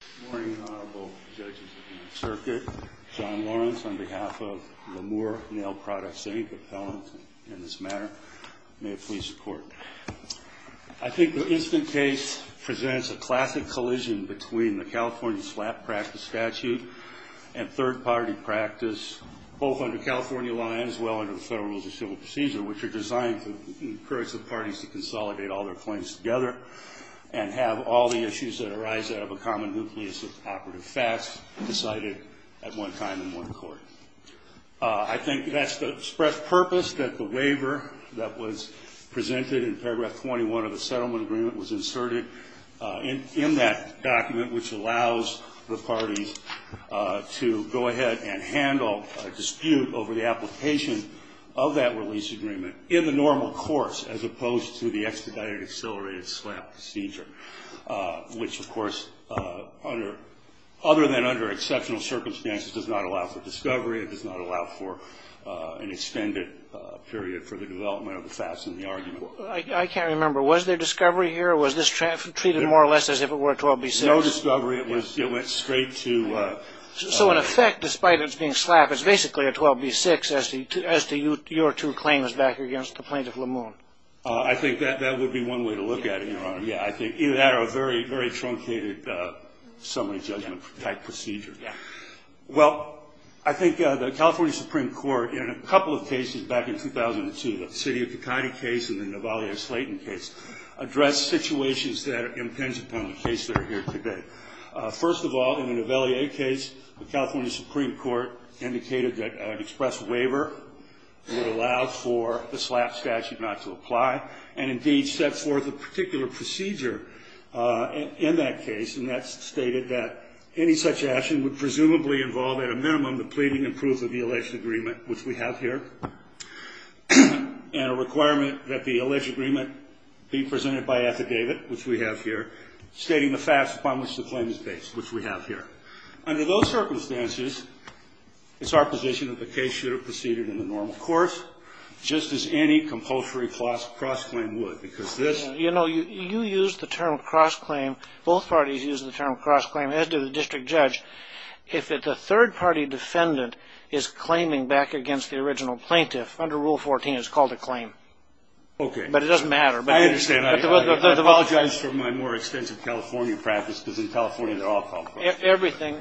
Good morning, Honorable Judges of the Circuit. John Lawrence, on behalf of Lemoore Nail Products, Inc., appellant in this matter. May it please the Court. I think the instant case presents a classic collision between the California SLAPP practice statute and third-party practice, both under California law and as well under the Federal Rules of Civil Procedure, which are designed to encourage the parties to consolidate all their claims together and have all the issues that arise out of a common nucleus of operative facts decided at one time in one court. I think that's the express purpose that the waiver that was presented in paragraph 21 of the settlement agreement was inserted in that document, which allows the parties to go ahead and handle a dispute over the application of that release agreement in the normal course, as opposed to the extradited accelerated SLAPP procedure, which of course, other than under exceptional circumstances, does not allow for discovery. It does not allow for an extended period for the development of the facts in the argument. I can't remember. Was there discovery here? Was this treated more or less as if it were a 12b6? No discovery. It went straight to... So in effect, despite its being SLAPP, it's basically a 12b6 as to your two claims back against the plaintiff, LeMoon. I think that would be one way to look at it, Your Honor. Yeah, I think either that or a very, very truncated summary judgment type procedure. Well, I think the California Supreme Court in a couple of cases back in 2002, the Sidiou-Khakdi case and the Nivellier-Slaton case, addressed situations that are intangible in the case that are here today. First of all, in the Nivellier case, the California Supreme Court indicated that an express waiver would allow for the SLAPP statute not to apply and indeed set forth a particular procedure in that case, and that stated that any such action would presumably involve at a minimum the pleading and proof of the alleged agreement, which we have here, and a requirement that the alleged agreement be presented by affidavit, which we have here, stating the facts upon which the claim is based, which we have here. Under those circumstances, it's our position that the case should have proceeded in the normal course, just as any compulsory cross-claim would. You know, you used the term cross-claim. Both parties used the term cross-claim, as did the district judge. If the third-party defendant is claiming back against the original plaintiff, under Rule 14, it's called a claim. Okay. But it doesn't matter. I understand. I apologize for my more extensive California practice, because in California, they're all called cross-claim. Everything.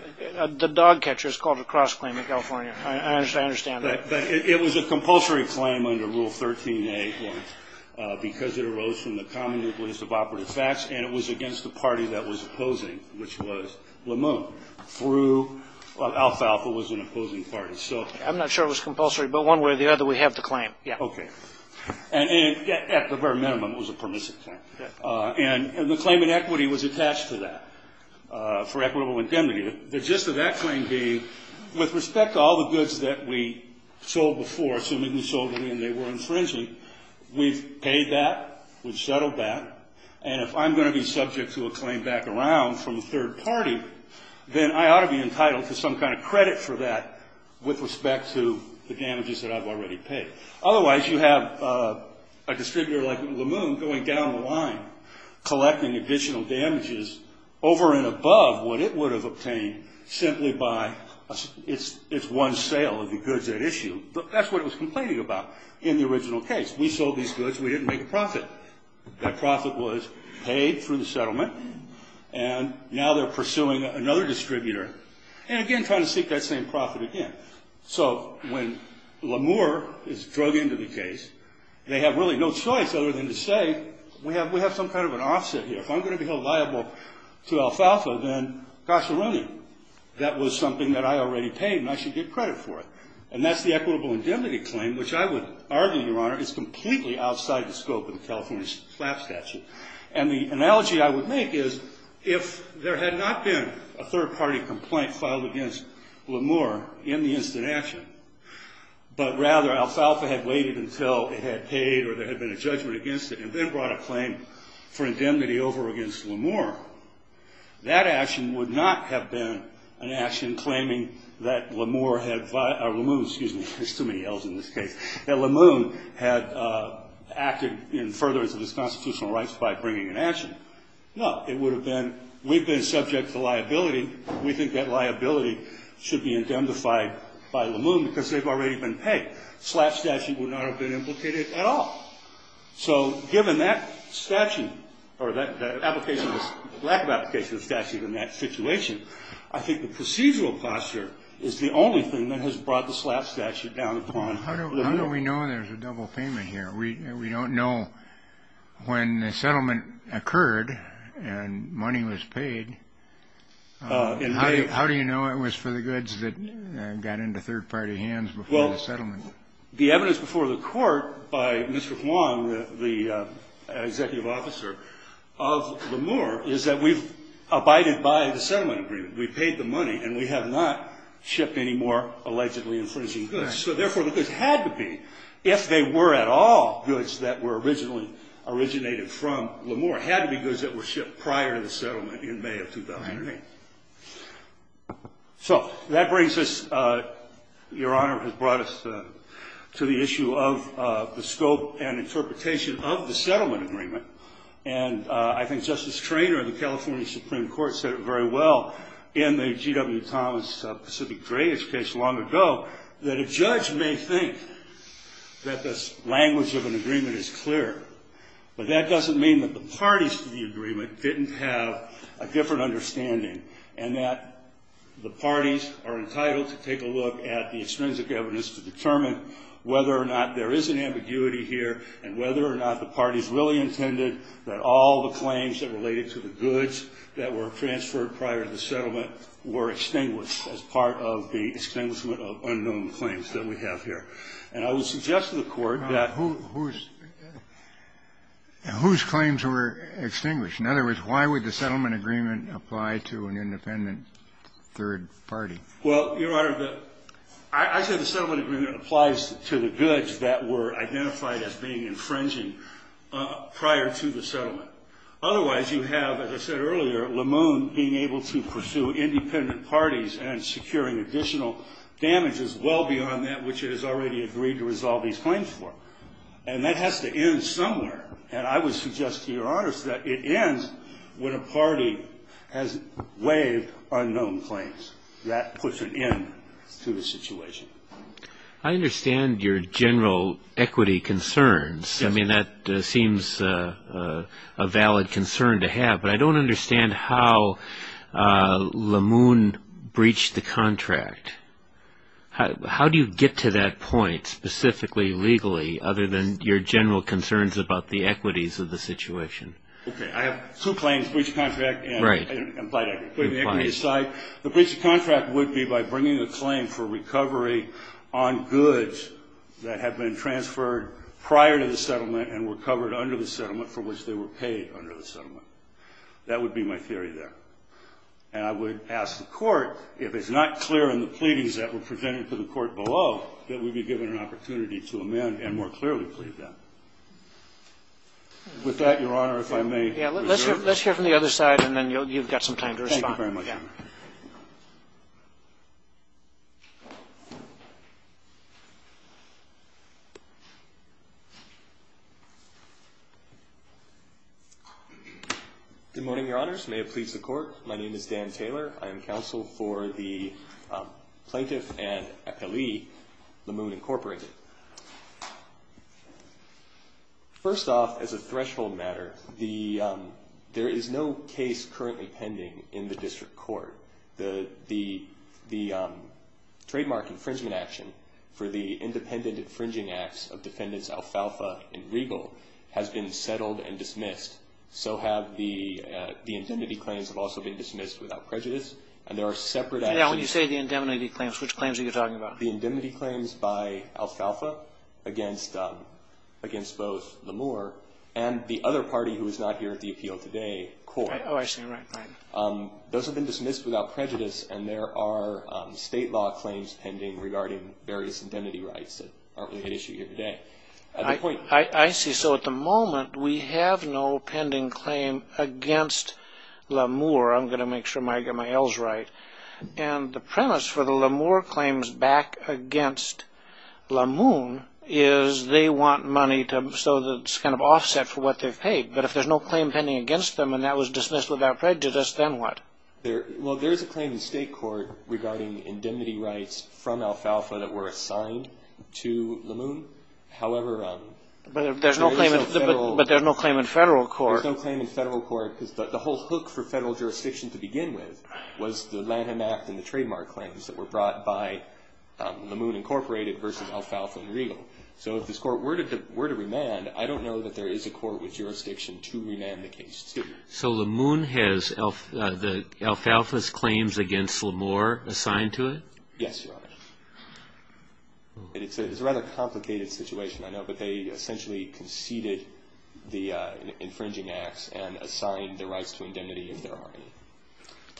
The dog catcher called it a cross-claim in California. I understand that. But it was a compulsory claim under Rule 13a, because it arose from the common nucleus of operative facts, and it was against the party that was opposing, which was LeMun, through Alfalfa, was an opposing party. So I'm not sure it was compulsory, but one way or the other, we have the claim. Yeah. Okay. And at the very minimum, it was a permissive claim. And the claim in equity was attached to that for equitable indemnity. The gist of that claim being with respect to all the goods that we sold before, assuming we sold them when they were infringing, we've paid that, we've settled that, and if I'm going to be subject to a claim back around from the third party, then I ought to be entitled to some kind of credit for that with respect to the damages that I've already paid. Otherwise, you have a distributor like LeMun going down the line collecting additional damages over and above what it would have obtained simply by its one sale of the goods at issue. That's what it was complaining about in the original case. We sold these goods, we didn't make a profit. That profit was paid through the settlement, and now they're pursuing another distributor, and again trying to seek that same profit again. So when LeMun is drug into the We have some kind of an offset here. If I'm going to be held liable to Alfalfa, then gosh-already, that was something that I already paid, and I should get credit for it. And that's the equitable indemnity claim, which I would argue, Your Honor, is completely outside the scope of the California FLAP statute. And the analogy I would make is, if there had not been a third-party complaint filed against LeMun in the instant action, but rather Alfalfa had waited until it had paid or there had been a judgment against it, and then brought a claim for indemnity over against LeMun, that action would not have been an action claiming that LeMun had, excuse me, there's too many L's in this case, that LeMun had acted in furtherance of his constitutional rights by bringing an action. No, it would have been, we've been subject to liability. We think that liability should be indemnified by LeMun because they've already been paid. FLAP statute would not have been implicated at all. So given that statute, or that application, lack of application of the statute in that situation, I think the procedural posture is the only thing that has brought the FLAP statute down the pond. How do we know there's a double payment here? We don't know when the settlement occurred and money was paid. And how do you know it was for the goods that got into third-party hands before the settlement? Well, the evidence before the court by Mr. Huang, the executive officer of LeMun, is that we've abided by the settlement agreement. We paid the money and we have not shipped any more allegedly infringing goods. So therefore, the goods had to be, if they were at all goods that were originally originated from LeMun, had to be goods that were shipped prior to the settlement in May of 2008. So that brings us, Your Honor, has brought us to the issue of the scope and interpretation of the settlement agreement. And I think Justice Traynor of the California Supreme Court said it very well in the G.W. Thomas Pacific Dredge case long ago, that a judge may think that the language of an agreement is clear, but that doesn't mean that the parties to the agreement didn't have a different understanding, and that the parties are entitled to take a look at the extrinsic evidence to determine whether or not there is an ambiguity here and whether or not the parties really intended that all the claims that related to the goods that were transferred prior to the settlement were extinguished as part of the extinguishment of unknown claims that we have here. And I would suggest to the Court that whose claims were extinguished? In other words, why would the settlement agreement apply to an independent third party? Well, Your Honor, I said the settlement agreement applies to the goods that were identified as being infringing prior to the settlement. Otherwise, you have, as I said earlier, LeMun being able to pursue independent parties and securing additional damages well beyond that which it has already agreed to resolve these claims for. And that has to end somewhere. And I would suggest to Your Honor that it ends when a party has waived unknown claims. That puts an end to the situation. I understand your general equity concerns. I mean, that seems a valid concern to have, but I don't understand how LeMun breached the contract. How do you get to that point specifically legally, other than your general concerns about the equities of the situation? Okay. I have two claims, breach of contract and implied equity. The breach of contract would be by bringing the claim for recovery on goods that have been transferred prior to the settlement and were covered under the settlement for which they were paid under the settlement. That would be my theory there. And I would ask the Court, if it's not clear in the pleadings that were presented to the Court below, that we be given an opportunity to amend and more clearly plead them. With that, Your Honor, if I may reserve the floor. Yeah. Let's hear from the other side, and then you've got some time to respond. Thank you very much, Your Honor. Good morning, Your Honors. May it please the Court. My name is Dan Taylor. I am counsel for the plaintiff and appellee, LeMun Incorporated. First off, as a threshold matter, there is no case currently pending in the District Court. The trademark infringement action for the independent infringing acts of defendants Alfalfa and Regal has been settled and dismissed. So have the indemnity claims have also been dismissed without prejudice, and there are separate actions. Yeah, when you say the indemnity claims, which claims are you talking about? The indemnity claims by Alfalfa against both Lemur and the other party who is not here at the appeal today, Coors. Oh, I see. Right, right. Those have been dismissed without prejudice, and there are state law claims pending regarding various indemnity rights that aren't really at issue here today. I see. So at the moment, we have no pending claim against Lemur. I'm going to make sure I get my L's right. And the premise for the Lemur claims back against LeMun is they want money so that it's kind of offset for what they've paid. But if there's no claim pending against them and that was dismissed without prejudice, then what? Well, there's a claim in state court regarding indemnity rights from Alfalfa that were assigned to LeMun. However, there's no claim in federal court because the whole hook for federal jurisdiction to begin with was the Lanham Act and the trademark claims that were brought by LeMun Incorporated versus Alfalfa and Regal. So if this court were to remand, I don't know that there is a court with jurisdiction to remand the case, too. So LeMun has the Alfalfa's claims against Lemur assigned to it? Yes, Your Honor. It's a rather complicated situation, I know, but they essentially conceded the infringing acts and assigned the rights to indemnity if there are any.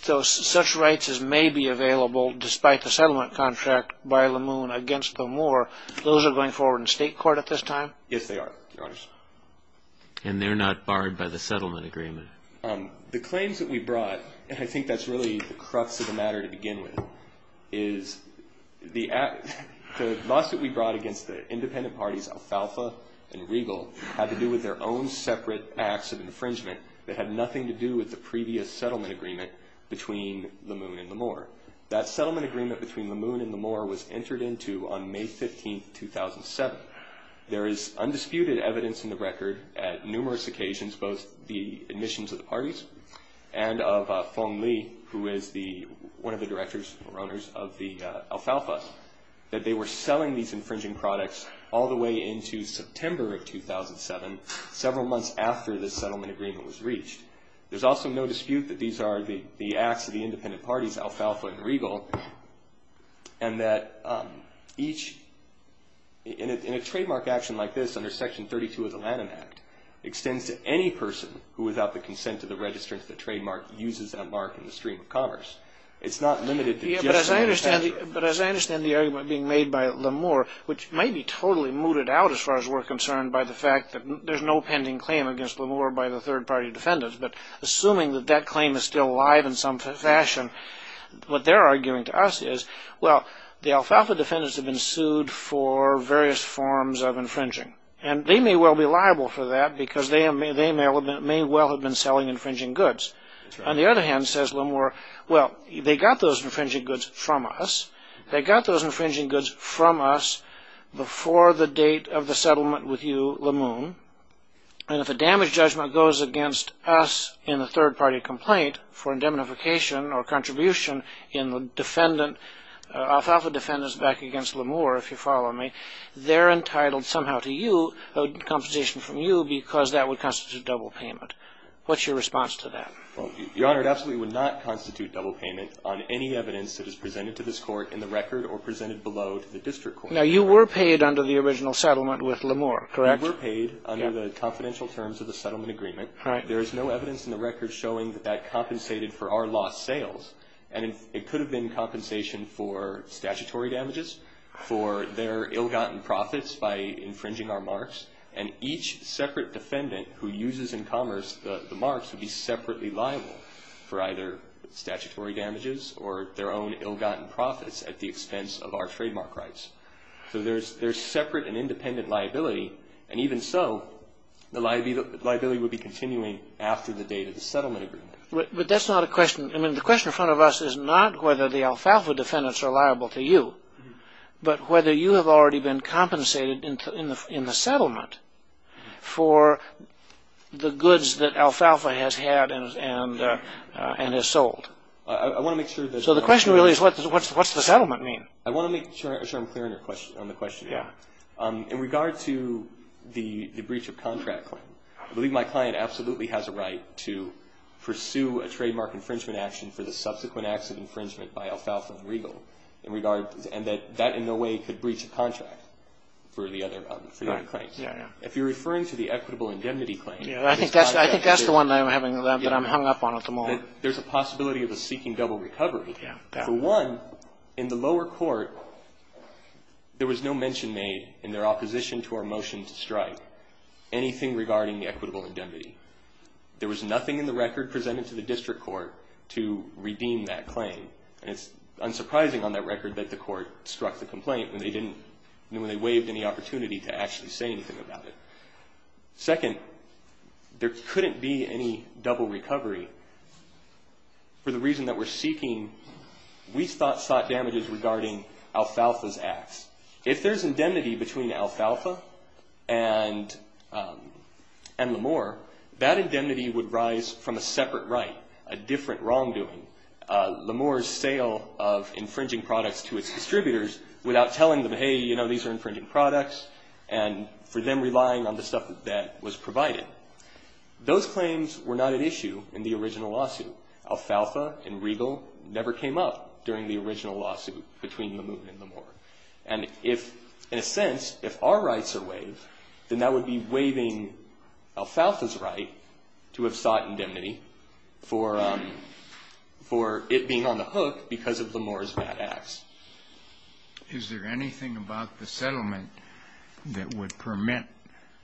So such rights as may be available despite the settlement contract by LeMun against the Lemur, those are going forward in state court at this time? Yes, they are, Your Honor. And they're not barred by the settlement agreement? The claims that we brought, and I think that's really the crux of the matter to begin with, is the lawsuit we brought against the independent parties Alfalfa and Regal had to do with their own separate acts of infringement that had nothing to do with the previous settlement agreement between LeMun and Lemur. That settlement agreement between LeMun and Lemur was entered into on May 15th, 2007. There is undisputed evidence in the record at numerous occasions both the admissions of the parties and of Feng Li, who is one of the directors or owners of the Alfalfa, that they were selling these infringing products all the way into September of 2007, several months after this settlement agreement was reached. There's also no dispute that these are the acts of the independent parties Alfalfa and Regal and that each, in a trademark action like this, under Section 32 of the Lanham Act, extends to any person who, without the consent of the registrant, the trademark, uses that mark in the stream of commerce. It's not limited to just the registrant. But as I understand the argument being made by LeMur, which may be totally mooted out as far as we're concerned by the fact that there's no pending claim against LeMur by the third party defendants, but assuming that that claim is still alive in some fashion, what they're arguing to us is, well, the Alfalfa defendants have been sued for various forms of infringing. And they may well be liable for that because they may well have been selling infringing goods. On the other hand, says LeMur, well, they got those infringing goods from us. They got those infringing goods from us before the date of the settlement with you, LeMur. And if a damage judgment goes against us in a third party complaint for indemnification or contribution in the defendant, Alfalfa defendants back against LeMur, if you follow me, they're entitled somehow to compensation from you because that would constitute double payment. What's your response to that? Well, Your Honor, it absolutely would not constitute double payment on any evidence that is presented to this Court in the record or presented below to the district court. Now, you were paid under the original settlement with LeMur, correct? We were paid under the confidential terms of the settlement agreement. There is no evidence in the record showing that that compensated for our lost sales. And it could have been compensation for statutory damages, for their ill-gotten profits by infringing our marks. And each separate defendant who uses in commerce the marks would be separately liable for either statutory damages or their own ill-gotten profits at the expense of our trademark rights. So there's separate and independent liability. And even so, the liability would be continuing after the date of the settlement agreement. But that's not a question. I mean, the question in front of us is not whether the Alfalfa defendants are liable to you, but whether you have already been compensated in the settlement for the goods that Alfalfa has had and has sold. So the question really is what's the settlement mean? I want to make sure I'm clear on the question, Your Honor. In regard to the breach of contract claim, I believe my client absolutely has a right to pursue a trademark infringement action for the subsequent acts of infringement by Alfalfa and Regal. And that in no way could breach a contract for the other clients. If you're referring to the equitable indemnity claim, there's a possibility of a seeking double recovery. For one, in the lower court, there was no mention made in their opposition to our motion to strike anything regarding the equitable indemnity. There was nothing in the record presented to the district court to redeem that claim. And it's unsurprising on that record that the court struck the complaint when they didn't, when they waived any opportunity to actually say anything about it. Second, there couldn't be any double recovery for the reason that we're seeking, we thought damages regarding Alfalfa's acts. If there's indemnity between Alfalfa and L'Amour, that indemnity would rise from a separate right, a different wrongdoing. L'Amour's sale of infringing products to its distributors without telling them, hey, you know, these are infringing products, and for them relying on the stuff that was provided. Those claims were not at issue in the original lawsuit. Alfalfa and Regal never came up during the original lawsuit between L'Amour and L'Amour. And if, in a sense, if our rights are waived, then that would be waiving Alfalfa's right to have sought indemnity for it being on the hook because of L'Amour's bad acts. Is there anything about the settlement that would permit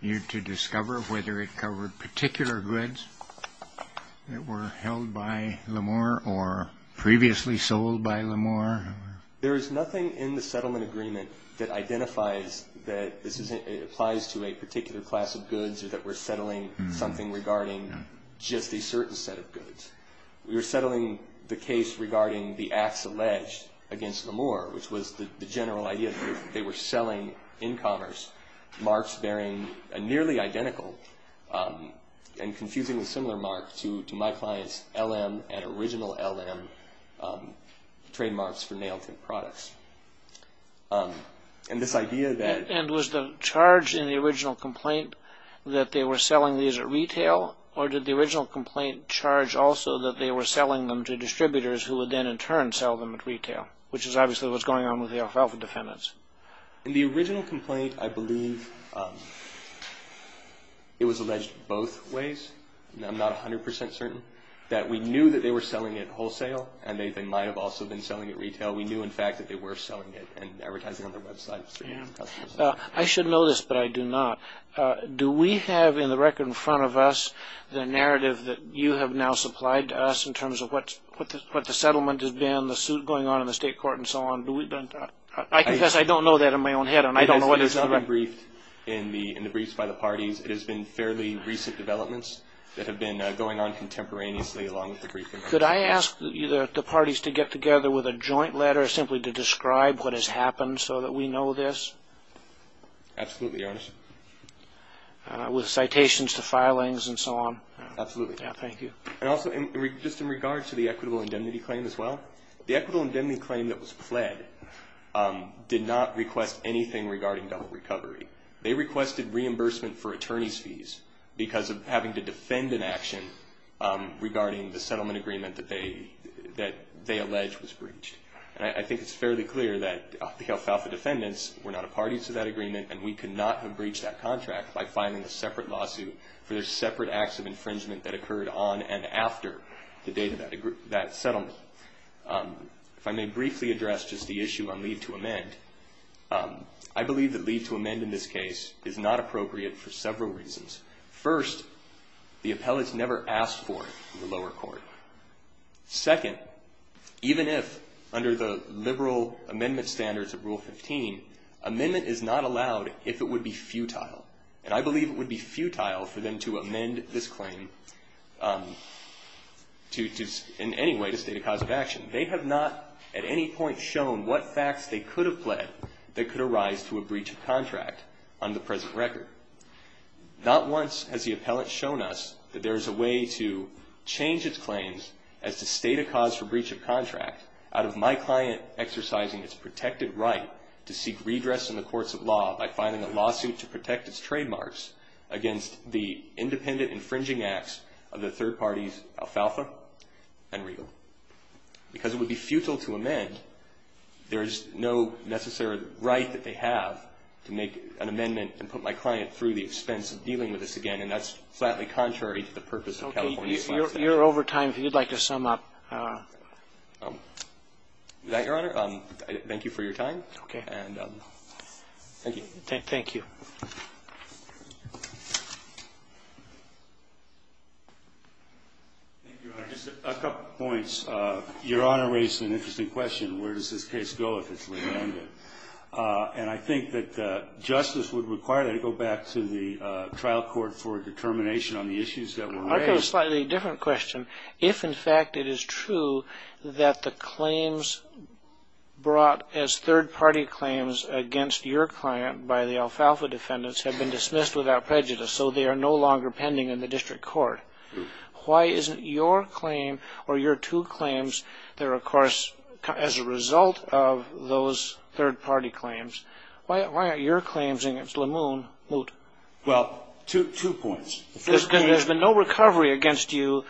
you to discover whether it covered particular goods that were held by L'Amour or previously sold by L'Amour? There is nothing in the settlement agreement that identifies that this applies to a particular class of goods or that we're settling something regarding just a certain set of goods. We were settling the case regarding the acts alleged against L'Amour, which was the general idea that they were selling in commerce marks bearing a nearly identical and confusingly similar mark to my client's LM and original LM trademarks for Nailtip products. And was the charge in the original complaint that they were selling these at retail, or did the original complaint charge also that they were selling them to distributors who would then in turn sell them at retail, which is obviously what's going on with the Alfalfa defendants? In the original complaint, I believe it was alleged both ways. I'm not 100 percent certain that we knew that they were selling it wholesale and they might have also been selling it retail. We knew, in fact, that they were selling it and advertising on their websites. I should know this, but I do not. Do we have in the record in front of us the narrative that you have now supplied to us in terms of what the settlement has been, the suit going on in the state court, and so on? I confess I don't know that in my own head and I don't know whether it's correct. It has not been briefed in the briefs by the parties. It has been fairly recent developments that have been going on contemporaneously along with the briefing. Could I ask the parties to get together with a joint letter simply to describe what has happened so that we know this? Absolutely, Your Honor. With citations to filings and so on? Absolutely. Thank you. Also, just in regard to the equitable indemnity claim as well, the equitable indemnity claim that was pled did not request anything regarding double recovery. They requested reimbursement for attorney's fees because of having to defend an action regarding the settlement agreement that they alleged was breached. I think it's fairly clear that the Alfalfa defendants were not a party to that agreement and we could not have breached that contract by filing a separate lawsuit for their separate acts of infringement that occurred on and after the date of that settlement. If I may briefly address just the issue on leave to amend, I believe that leave to amend in this case is not appropriate for several reasons. First, the appellate's never asked for it in the lower court. Second, even if under the liberal amendment standards of Rule 115, amendment is not allowed if it would be futile. And I believe it would be futile for them to amend this claim in any way to state a cause of action. They have not at any point shown what facts they could have pled that could arise to a breach of contract on the present record. Not once has the appellate shown us that there is a way to change its claims as to state a cause for breach of contract out of my client exercising its protected right to seek redress in the courts of law by filing a lawsuit to protect its trademarks against the independent infringing acts of the third party's Alfalfa and Regal. Because it would be futile to amend, there is no necessary right that they have to make an amendment and put my client through the expense of dealing with this again, and that's flatly contrary to the purpose of California statute. Okay. You're over time. If you'd like to sum up. Thank you, Your Honor. Thank you for your time. Okay. Thank you. Thank you. Thank you, Your Honor. Just a couple of points. Your Honor raised an interesting question, where does this case go if it's landed? And I think that justice would require that it go back to the trial court for determination on the issues that were raised. I've got a slightly different question. If, in fact, it is true that the claims brought as third-party claims against your client by the Alfalfa defendants have been dismissed without prejudice, so they are no longer pending in the district court, why isn't your claim or your two claims that are, of course, as a result of those third-party claims, why aren't your claims against Lemoon moot? Well, two points. There's been no recovery against you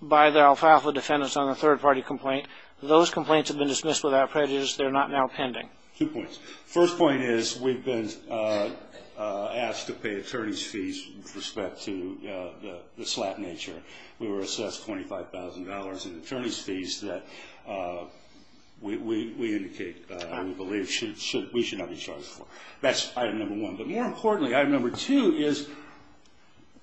by the Alfalfa defendants on a third-party complaint. Those complaints have been dismissed without prejudice. They're not now pending. Two points. First point is we've been asked to pay attorney's fees with respect to the slap nature. We were assessed $25,000 in attorney's fees that we indicate we believe we should not be charged for. That's item number one. But more importantly, item number two is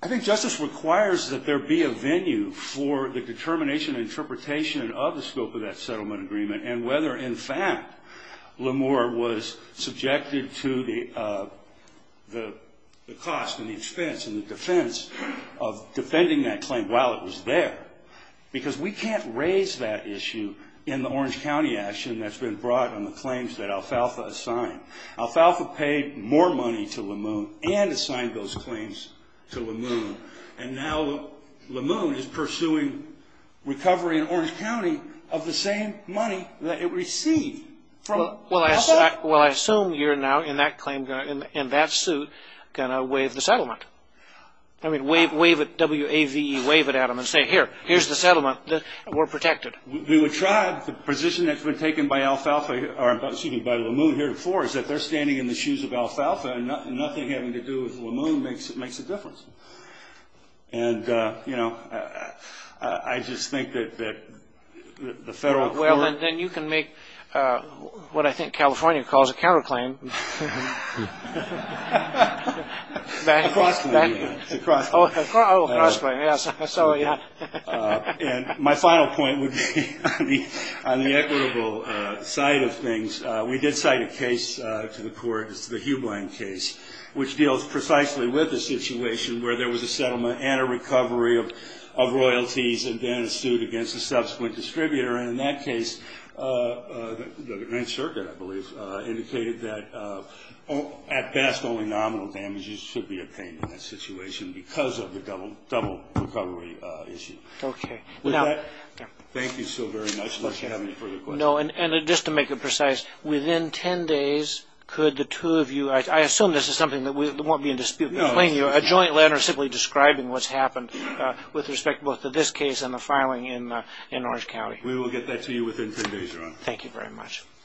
I think justice requires that there be a venue for the determination and interpretation of the scope of that settlement agreement and whether, in fact, Lemoore was subjected to the cost and the expense and the defense of defending that claim while it was there because we can't raise that issue in the Orange County action that's been brought on the claims that Alfalfa assigned. Alfalfa paid more money to Lemoon and assigned those claims to Lemoon. And now Lemoon is pursuing recovery in Orange County of the same money that it received from Alfalfa. Well, I assume you're now in that suit going to waive the settlement. I mean, waive it, W-A-V-E, waive it, Adam, and say, here, here's the settlement. We're protected. We would try. The position that's been taken by Alfalfa or, excuse me, by Lemoon here before is that they're standing in the shoes of Alfalfa and nothing having to do with Lemoon makes a difference. And, you know, I just think that the federal court Well, then you can make what I think California calls a counterclaim. Across the way. Across the way, yes. And my final point would be on the equitable side of things. We did cite a case to the court. It's the Hugh Bland case, which deals precisely with the situation where there was a settlement and a recovery of royalties and then a suit against the subsequent distributor. And in that case, the Ninth Circuit, I believe, indicated that at best only nominal damages should be obtained in that situation because of the double recovery issue. Okay. Thank you so very much. Unless you have any further questions. No, and just to make it precise, within 10 days, could the two of you, I assume this is something that won't be in dispute, but plainly a joint letter simply describing what's happened with respect both to this case and the filing in Orange County. We will get that to you within 10 days, Your Honor. Thank you very much.